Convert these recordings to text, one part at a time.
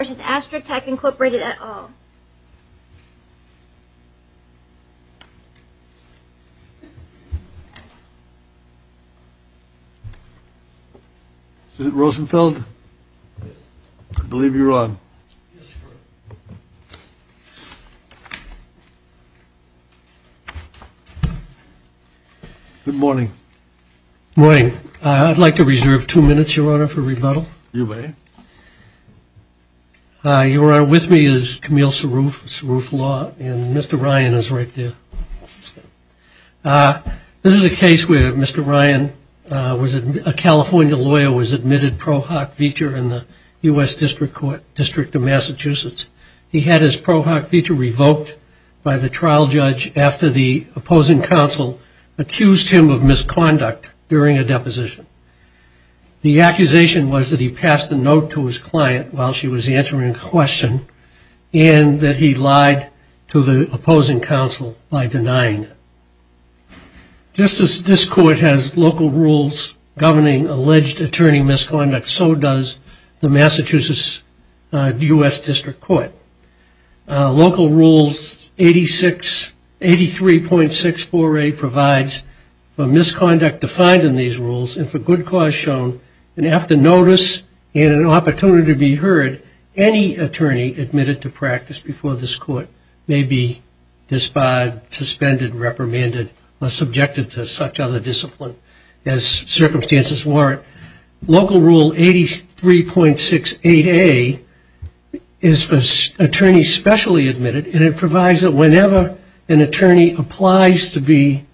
versus Astra Tech, Incorporated et al. Is it Rosenfeld? I believe you're on. Good morning. Good morning. I'd like to reserve two minutes, Your Honor, for rebuttal. You may. Your Honor, with me is Camille Sarouf, Sarouf Law, and Mr. Ryan is right there. This is a case where Mr. Ryan, a California lawyer, was admitted pro hoc vitre in the U.S. District Court, District of Massachusetts. He had his pro hoc vitre revoked by the trial judge after the opposing counsel accused him of misconduct during a deposition. The accusation was that he passed a note to his client while she was answering a question and that he lied to the opposing counsel by denying it. Just as this court has local rules governing alleged attorney misconduct, so does the Massachusetts U.S. District Court. Local Rule 86, 83.648 provides for misconduct defined in these rules and for good cause shown, and after notice and an opportunity to be heard, any attorney admitted to practice before this court may be disbarred, suspended, reprimanded, or subjected to such other discipline as circumstances warrant. Local Rule 83.68a is for attorneys specially admitted, and it provides that whenever an attorney applies to be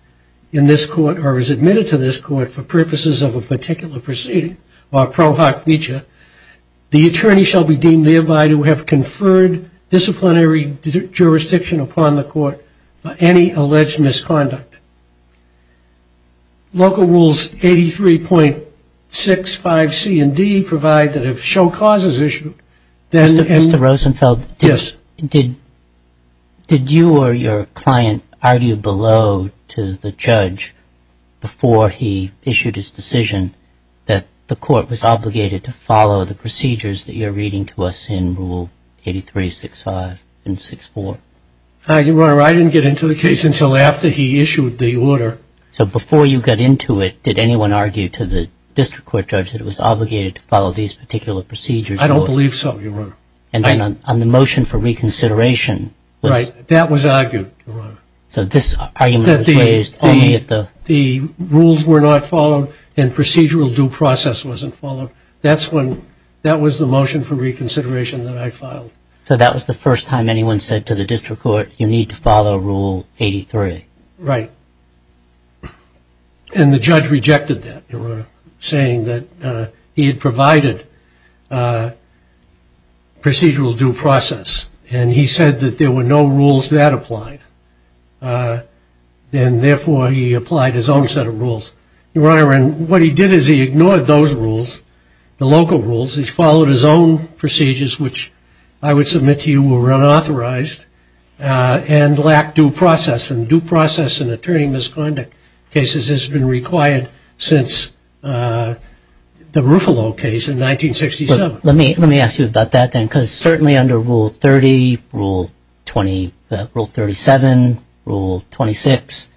in this court or is admitted to this court for purposes of a particular proceeding or pro hoc vitre, the attorney shall be deemed thereby to have conferred disciplinary jurisdiction upon the court for any alleged misconduct. Local Rules 83.65c and d provide that if show cause is issued, then... Mr. Rosenfeld, did you or your client argue below to the judge before he issued his decision that the court was obligated to follow the procedures that you're reading to us in Rule 83.65 and 64? Your Honor, I didn't get into the case until after he issued the order. So before you got into it, did anyone argue to the District Court judge that it was obligated to follow these particular procedures? I don't believe so, Your Honor. And then on the motion for reconsideration... Right, that was argued, Your Honor. So this argument was raised only at the... Procedural due process wasn't followed. That was the motion for reconsideration that I filed. So that was the first time anyone said to the District Court, you need to follow Rule 83. Right. And the judge rejected that, Your Honor, saying that he had provided procedural due process, and he said that there were no rules that applied. And therefore, he applied his own set of rules. Your Honor, and what he did is he ignored those rules, the local rules. He followed his own procedures, which I would submit to you were unauthorized, and lacked due process. And due process in attorney misconduct cases has been required since the Ruffalo case in 1967. Let me ask you about that then, because certainly under Rule 30, Rule 27, Rule 26,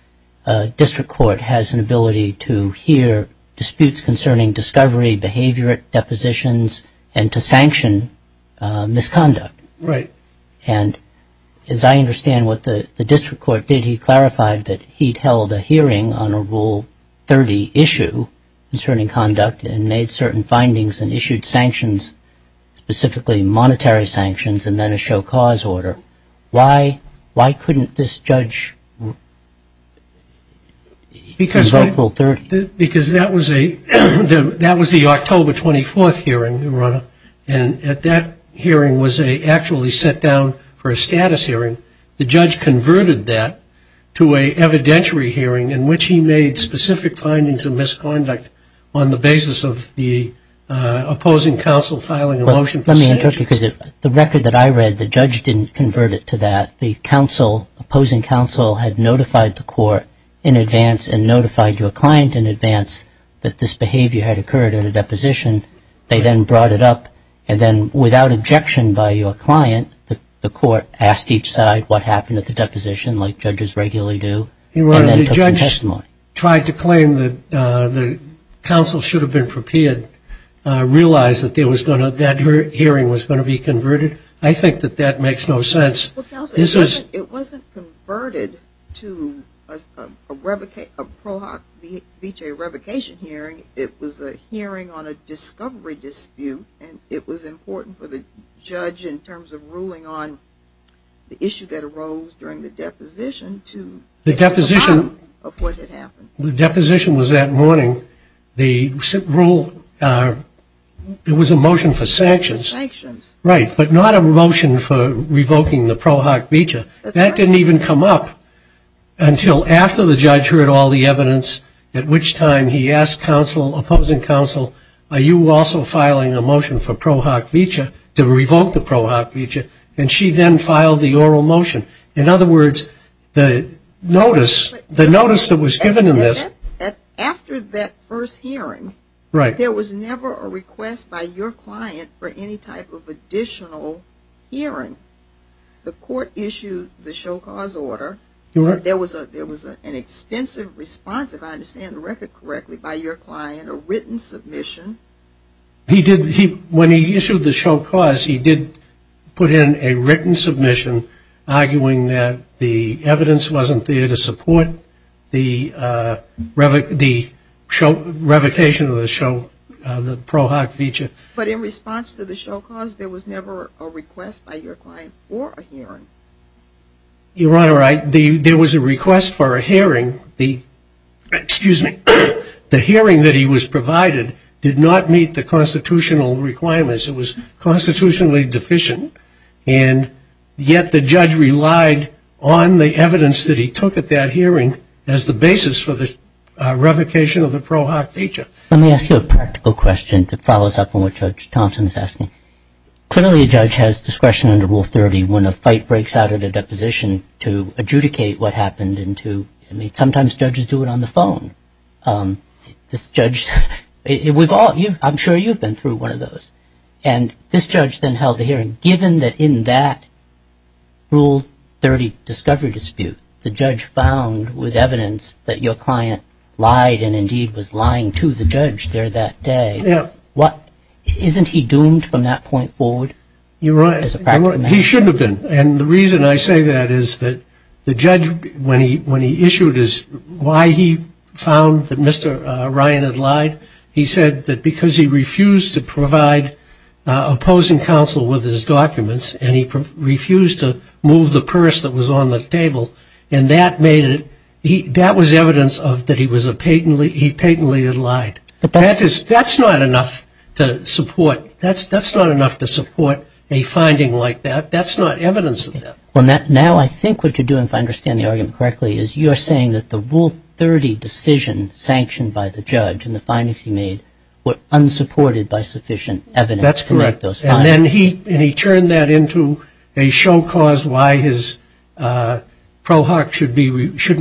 District Court has an ability to hear disputes concerning discovery, behavior, depositions, and to sanction misconduct. Right. And as I understand what the District Court did, he clarified that he'd held a hearing on a Rule 30 issue concerning conduct and made certain findings and issued sanctions, specifically monetary sanctions and then a show cause order. Why couldn't this judge invoke Rule 30? Because that was the October 24th hearing, Your Honor, and at that hearing was actually set down for a status hearing. The judge converted that to an evidentiary hearing in which he made specific findings of misconduct on the basis of the opposing counsel filing a motion for sanctions. The record that I read, the judge didn't convert it to that. The opposing counsel had notified the court in advance and notified your client in advance that this behavior had occurred in a deposition. They then brought it up, and then without objection by your client, the court asked each side what happened at the deposition, like judges regularly do, and then took some testimony. Your Honor, the judge tried to claim that the counsel should have been prepared, realized that that hearing was going to be converted. I think that that makes no sense. Well, counsel, it wasn't converted to a Prohoc Vitae revocation hearing. It was a hearing on a discovery dispute, and it was important for the judge in terms of ruling on the issue that arose during the deposition to The deposition was that morning. The rule, it was a motion for sanctions. Sanctions. Right, but not a motion for revoking the Prohoc Vitae. That's right. That didn't even come up until after the judge heard all the evidence, at which time he asked counsel, opposing counsel, are you also filing a motion for Prohoc Vitae to revoke the Prohoc Vitae, and she then filed the oral motion. In other words, the notice that was given in this After that first hearing, there was never a request by your client for any type of additional hearing. The court issued the show cause order. There was an extensive response, if I understand the record correctly, by your client, a written submission. When he issued the show cause, he did put in a written submission arguing that the evidence wasn't there to support the revocation of the Prohoc Vitae. But in response to the show cause, there was never a request by your client for a hearing. Your Honor, there was a request for a hearing. The hearing that he was provided did not meet the constitutional requirements. It was constitutionally deficient, and yet the judge relied on the evidence that he took at that hearing as the basis for the revocation of the Prohoc Vitae. Let me ask you a practical question that follows up on what Judge Thompson is asking. Clearly, a judge has discretion under Rule 30 when a fight breaks out at a deposition to adjudicate what happened. Sometimes judges do it on the phone. And this judge then held the hearing. Given that in that Rule 30 discovery dispute, the judge found with evidence that your client lied and indeed was lying to the judge there that day, isn't he doomed from that point forward as a practical matter? He should have been. And the reason I say that is that the judge, when he issued, why he found that Mr. Ryan had lied, he said that because he refused to provide opposing counsel with his documents and he refused to move the purse that was on the table, and that was evidence that he patently had lied. That's not enough to support a finding like that. That's not evidence of that. Well, now I think what you're doing, if I understand the argument correctly, is you're saying that the Rule 30 decision sanctioned by the judge and the findings he made were unsupported by sufficient evidence to make those findings. That's correct. And then he turned that into a show cause why his pro hoc shouldn't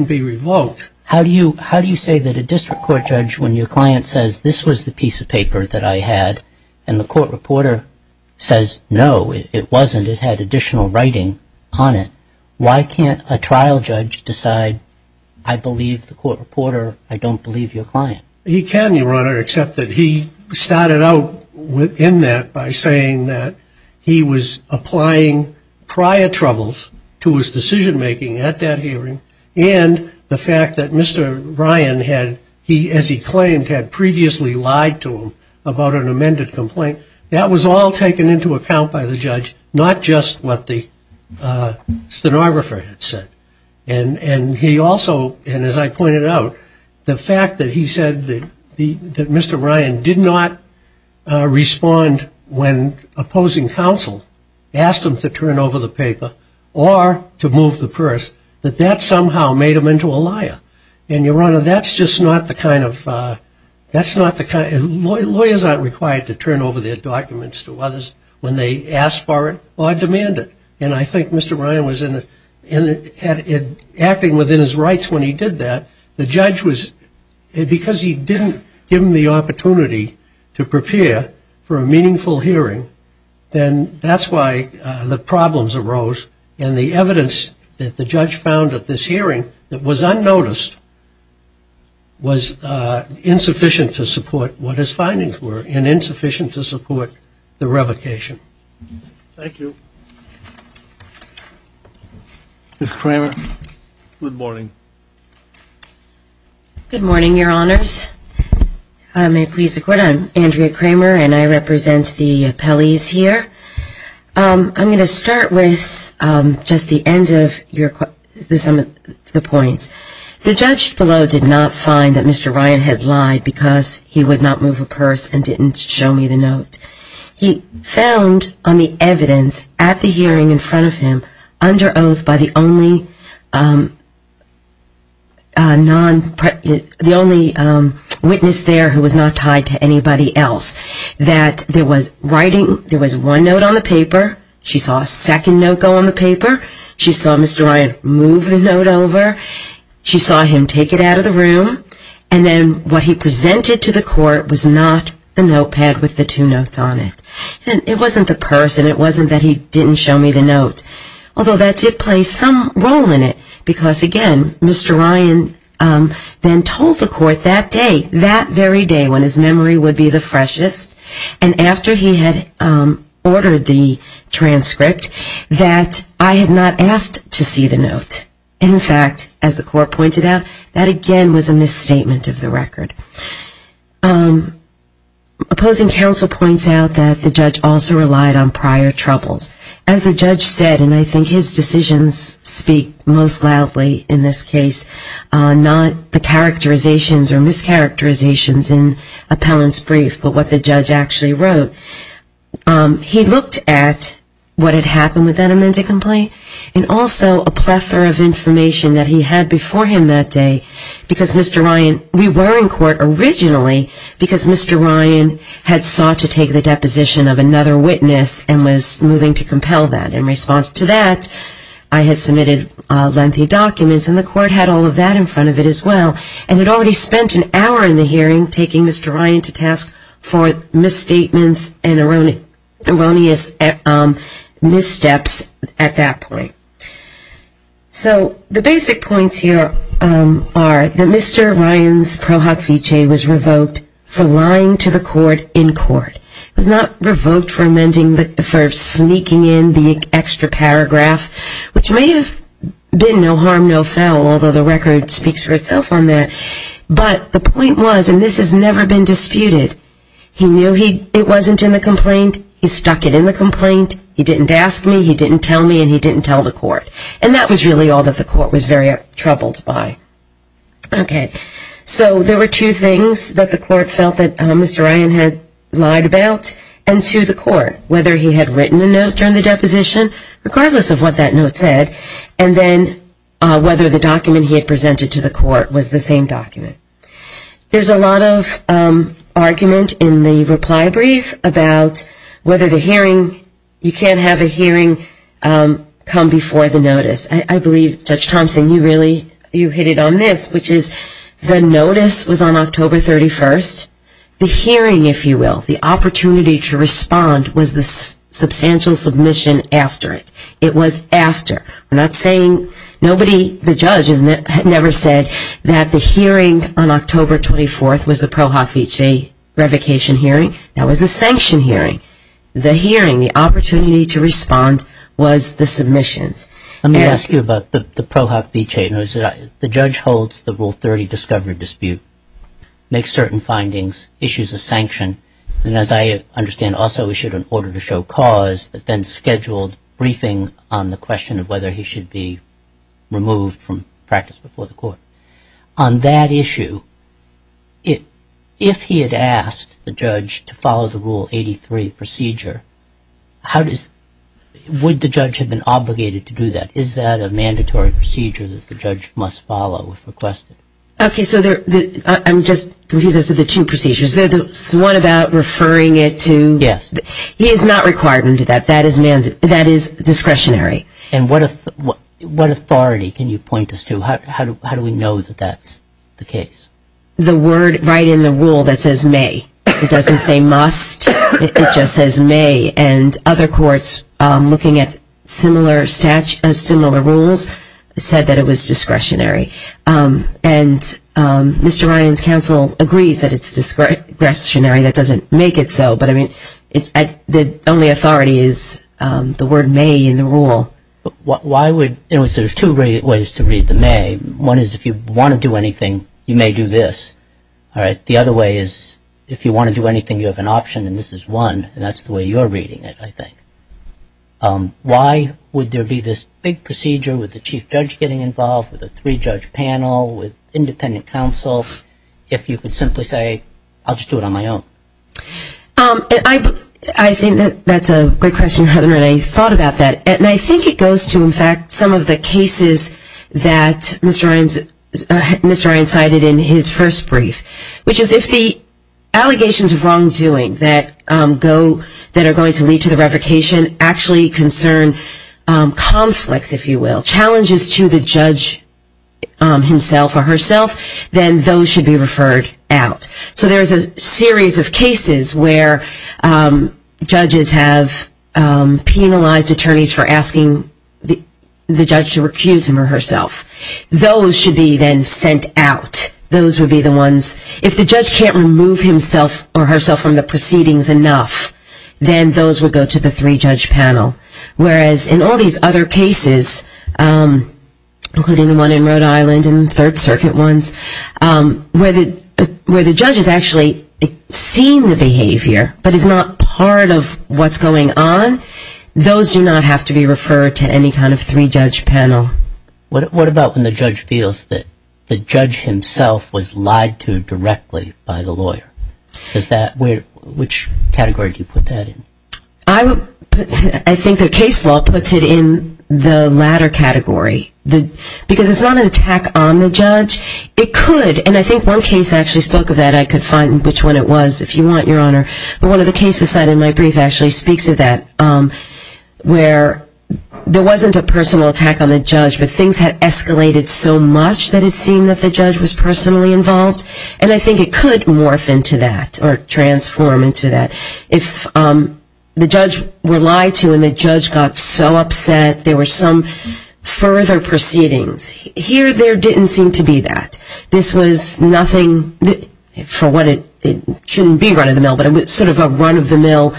be revoked. How do you say that a district court judge, when your client says this was the piece of paper that I had, and the court reporter says, no, it wasn't, it had additional writing on it, why can't a trial judge decide I believe the court reporter, I don't believe your client? He can, Your Honor, except that he started out in that by saying that he was applying prior troubles to his decision-making at that hearing and the fact that Mr. Ryan had, as he claimed, had previously lied to him about an amended complaint. That was all taken into account by the judge, not just what the stenographer had said. And he also, and as I pointed out, the fact that he said that Mr. Ryan did not respond when opposing counsel asked him to turn over the paper or to move the purse, that that somehow made him into a liar. And, Your Honor, that's just not the kind of, that's not the kind, lawyers aren't required to turn over their documents to others when they ask for it or demand it. And I think Mr. Ryan was acting within his rights when he did that. The judge was, because he didn't give him the opportunity to prepare for a meaningful hearing, then that's why the problems arose. And the evidence that the judge found at this hearing that was unnoticed was insufficient to support what his findings were and insufficient to support the revocation. Thank you. Ms. Kramer, good morning. Good morning, Your Honors. May it please the Court, I'm Andrea Kramer and I represent the appellees here. I'm going to start with just the end of some of the points. The judge below did not find that Mr. Ryan had lied because he would not move a purse and didn't show me the note. He found on the evidence at the hearing in front of him, under oath by the only witness there who was not tied to anybody else, that there was one note on the paper, she saw a second note go on the paper, she saw Mr. Ryan move the note over, she saw him take it out of the room, and then what he presented to the Court was not the notepad with the two notes on it. It wasn't the purse and it wasn't that he didn't show me the note, although that did play some role in it because, again, Mr. Ryan then told the Court that day, when his memory would be the freshest, and after he had ordered the transcript, that I had not asked to see the note. In fact, as the Court pointed out, that again was a misstatement of the record. Opposing counsel points out that the judge also relied on prior troubles. As the judge said, and I think his decisions speak most loudly in this case, not the characterizations or mischaracterizations in Appellant's brief, but what the judge actually wrote. He looked at what had happened with that amended complaint and also a plethora of information that he had before him that day because Mr. Ryan, we were in court originally because Mr. Ryan had sought to take the deposition of another witness and was moving to compel that. In response to that, I had submitted lengthy documents, and the Court had all of that in front of it as well, and had already spent an hour in the hearing taking Mr. Ryan to task for misstatements and erroneous missteps at that point. So the basic points here are that Mr. Ryan's pro hoc vicege was revoked for lying to the Court in court. He was not revoked for sneaking in the extra paragraph, which may have been no harm, no foul, although the record speaks for itself on that. But the point was, and this has never been disputed, he knew it wasn't in the complaint, he stuck it in the complaint, he didn't ask me, he didn't tell me, and he didn't tell the Court. And that was really all that the Court was very troubled by. Okay, so there were two things that the Court felt that Mr. Ryan had lied about, and to the Court, whether he had written a note during the deposition, regardless of what that note said, and then whether the document he had presented to the Court was the same document. There's a lot of argument in the reply brief about whether the hearing, you can't have a hearing come before the notice. I believe, Judge Thompson, you really, you hit it on this, which is the notice was on October 31st, the hearing, if you will, the opportunity to respond was the substantial submission after it. It was after. We're not saying, nobody, the judge had never said that the hearing on October 24th was the pro hoc vicege revocation hearing. That was a sanction hearing. The hearing, the opportunity to respond was the submissions. Let me ask you about the pro hoc vicege. The judge holds the Rule 30 discovery dispute, makes certain findings, issues a sanction, and as I understand, also issued an order to show cause that then scheduled briefing on the question of whether he should be removed from practice before the Court. On that issue, if he had asked the judge to follow the Rule 83 procedure, would the judge have been obligated to do that? Is that a mandatory procedure that the judge must follow if requested? Okay, so I'm just confused as to the two procedures. The one about referring it to? Yes. He is not required to do that. That is discretionary. And what authority can you point us to? How do we know that that's the case? The word right in the Rule that says may. It doesn't say must. It just says may. And other courts looking at similar rules said that it was discretionary. And Mr. Ryan's counsel agrees that it's discretionary. That doesn't make it so. But, I mean, the only authority is the word may in the Rule. Why would you? There's two ways to read the may. One is if you want to do anything, you may do this. The other way is if you want to do anything, you have an option, and this is one. And that's the way you're reading it, I think. Why would there be this big procedure with the chief judge getting involved, with a three-judge panel, with independent counsel, if you could simply say, I'll just do it on my own? I think that's a great question, Heather, and I thought about that. And I think it goes to, in fact, some of the cases that Mr. Ryan cited in his first brief, which is if the allegations of wrongdoing that are going to lead to the revocation actually concern conflicts, if you will, challenges to the judge himself or herself, then those should be referred out. So there's a series of cases where judges have penalized attorneys for asking the judge to recuse him or herself. Those should be then sent out. Those would be the ones. If the judge can't remove himself or herself from the proceedings enough, then those would go to the three-judge panel, whereas in all these other cases, including the one in Rhode Island and third circuit ones, where the judge has actually seen the behavior but is not part of what's going on, those do not have to be referred to any kind of three-judge panel. What about when the judge feels that the judge himself was lied to directly by the lawyer? Which category do you put that in? I think the case law puts it in the latter category, because it's not an attack on the judge. It could, and I think one case actually spoke of that. I could find which one it was if you want, Your Honor. But one of the cases cited in my brief actually speaks of that, where there wasn't a personal attack on the judge, but things had escalated so much that it seemed that the judge was personally involved. And I think it could morph into that or transform into that. If the judge were lied to and the judge got so upset, there were some further proceedings. Here, there didn't seem to be that. This was nothing for what it shouldn't be run-of-the-mill, but sort of a run-of-the-mill.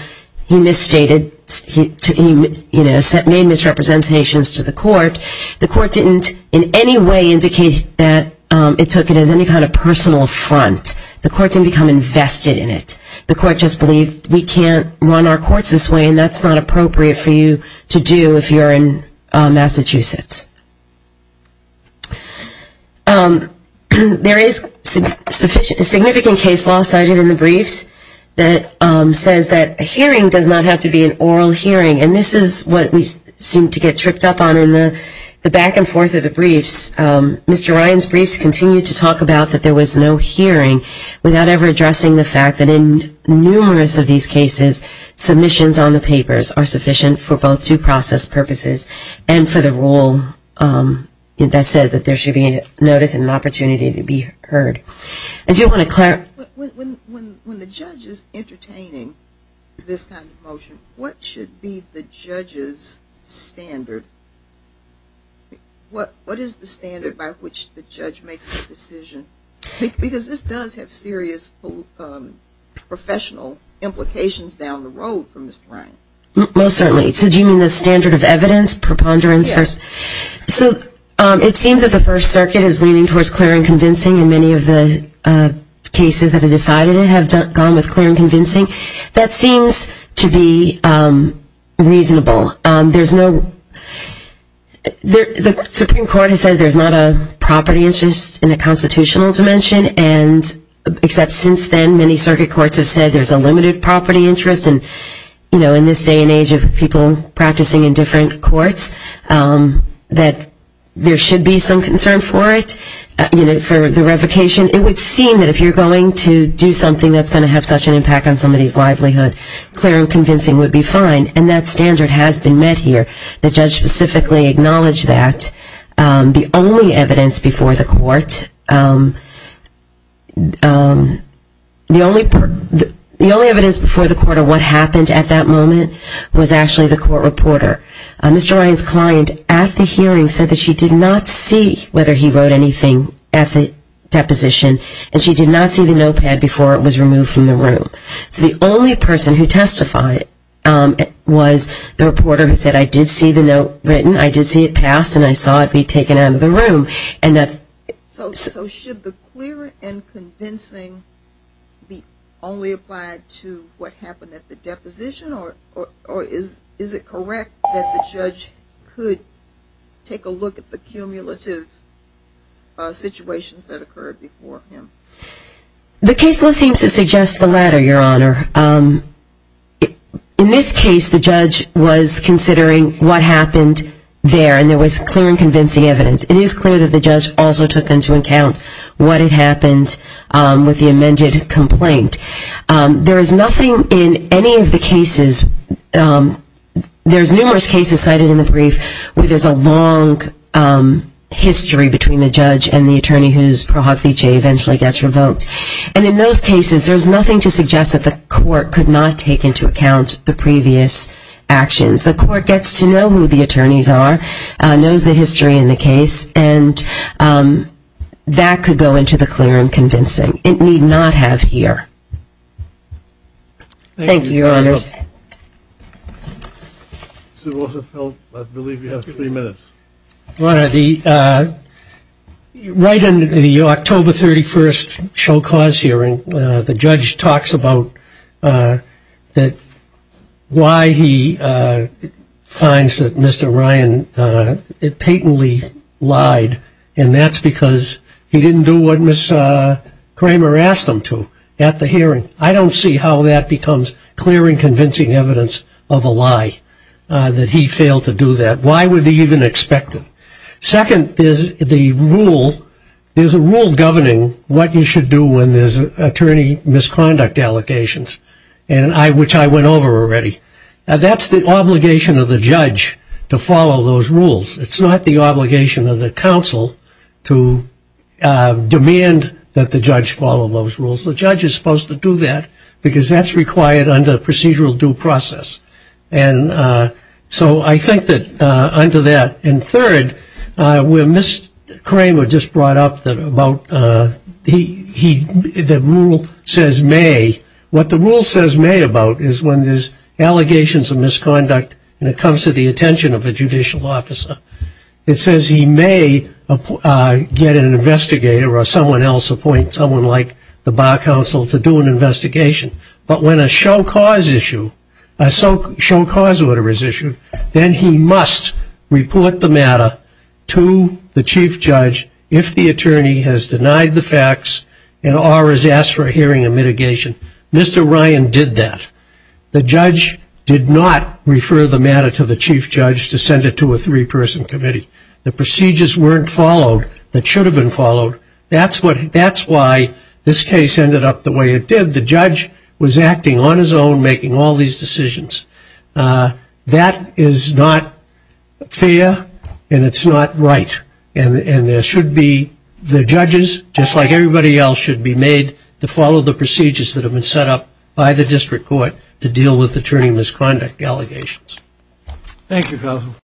He misstated. He made misrepresentations to the court. The court didn't in any way indicate that it took it as any kind of personal affront. The court didn't become invested in it. The court just believed we can't run our courts this way, and that's not appropriate for you to do if you're in Massachusetts. There is a significant case law cited in the briefs that says that a hearing does not have to be an oral hearing. And this is what we seem to get tripped up on in the back and forth of the briefs. Mr. Ryan's briefs continue to talk about that there was no hearing without ever addressing the fact that in numerous of these cases, submissions on the papers are sufficient for both due process purposes and for the rule that says that there should be notice and an opportunity to be heard. I do want to clarify. When the judge is entertaining this kind of motion, what should be the judge's standard? What is the standard by which the judge makes the decision? Because this does have serious professional implications down the road for Mr. Ryan. Most certainly. So do you mean the standard of evidence, preponderance? Yes. So it seems that the First Circuit is leaning towards clear and convincing, and many of the cases that have decided it have gone with clear and convincing. That seems to be reasonable. The Supreme Court has said there's not a property interest in a constitutional dimension, except since then many circuit courts have said there's a limited property interest. And in this day and age of people practicing in different courts, that there should be some concern for it, for the revocation. It would seem that if you're going to do something that's going to have such an impact on somebody's livelihood, clear and convincing would be fine. And that standard has been met here. The judge specifically acknowledged that. The only evidence before the court of what happened at that moment was actually the court reporter. Mr. Ryan's client at the hearing said that she did not see whether he wrote anything at the deposition, and she did not see the notepad before it was removed from the room. So the only person who testified was the reporter who said, I did see the note written, I did see it passed, and I saw it be taken out of the room. So should the clear and convincing be only applied to what happened at the deposition, or is it correct that the judge could take a look at the cumulative situations that occurred before him? The case list seems to suggest the latter, Your Honor. In this case, the judge was considering what happened there, and there was clear and convincing evidence. It is clear that the judge also took into account what had happened with the amended complaint. There is nothing in any of the cases, there's numerous cases cited in the brief where there's a long history between the judge and the attorney whose Pro Hoc Fice eventually gets revoked. And in those cases, there's nothing to suggest that the court could not take into account the previous actions. The court gets to know who the attorneys are, knows the history in the case, and that could go into the clear and convincing. It need not have here. Thank you, Your Honors. I believe you have three minutes. Your Honor, right in the October 31st show cause hearing, the judge talks about why he finds that Mr. Ryan patently lied, and that's because he didn't do what Ms. Kramer asked him to at the hearing. I don't see how that becomes clear and convincing evidence of a lie, that he failed to do that. Why would he even expect it? Second, there's a rule governing what you should do when there's attorney misconduct allegations, which I went over already. That's the obligation of the judge to follow those rules. It's not the obligation of the counsel to demand that the judge follow those rules. The judge is supposed to do that because that's required under procedural due process. And so I think that under that. And third, where Ms. Kramer just brought up about the rule says may, what the rule says may about is when there's allegations of misconduct and it comes to the attention of a judicial officer. It says he may get an investigator or someone else appoint, someone like the bar counsel to do an investigation. But when a show cause issue, a show cause order is issued, then he must report the matter to the chief judge if the attorney has denied the facts and or has asked for a hearing and mitigation. Mr. Ryan did that. The judge did not refer the matter to the chief judge to send it to a three-person committee. The procedures weren't followed that should have been followed. That's why this case ended up the way it did. The judge was acting on his own, making all these decisions. That is not fair and it's not right. And there should be the judges, just like everybody else, should be made to follow the procedures that have been set up by the district court to deal with attorney misconduct allegations. Thank you, Governor.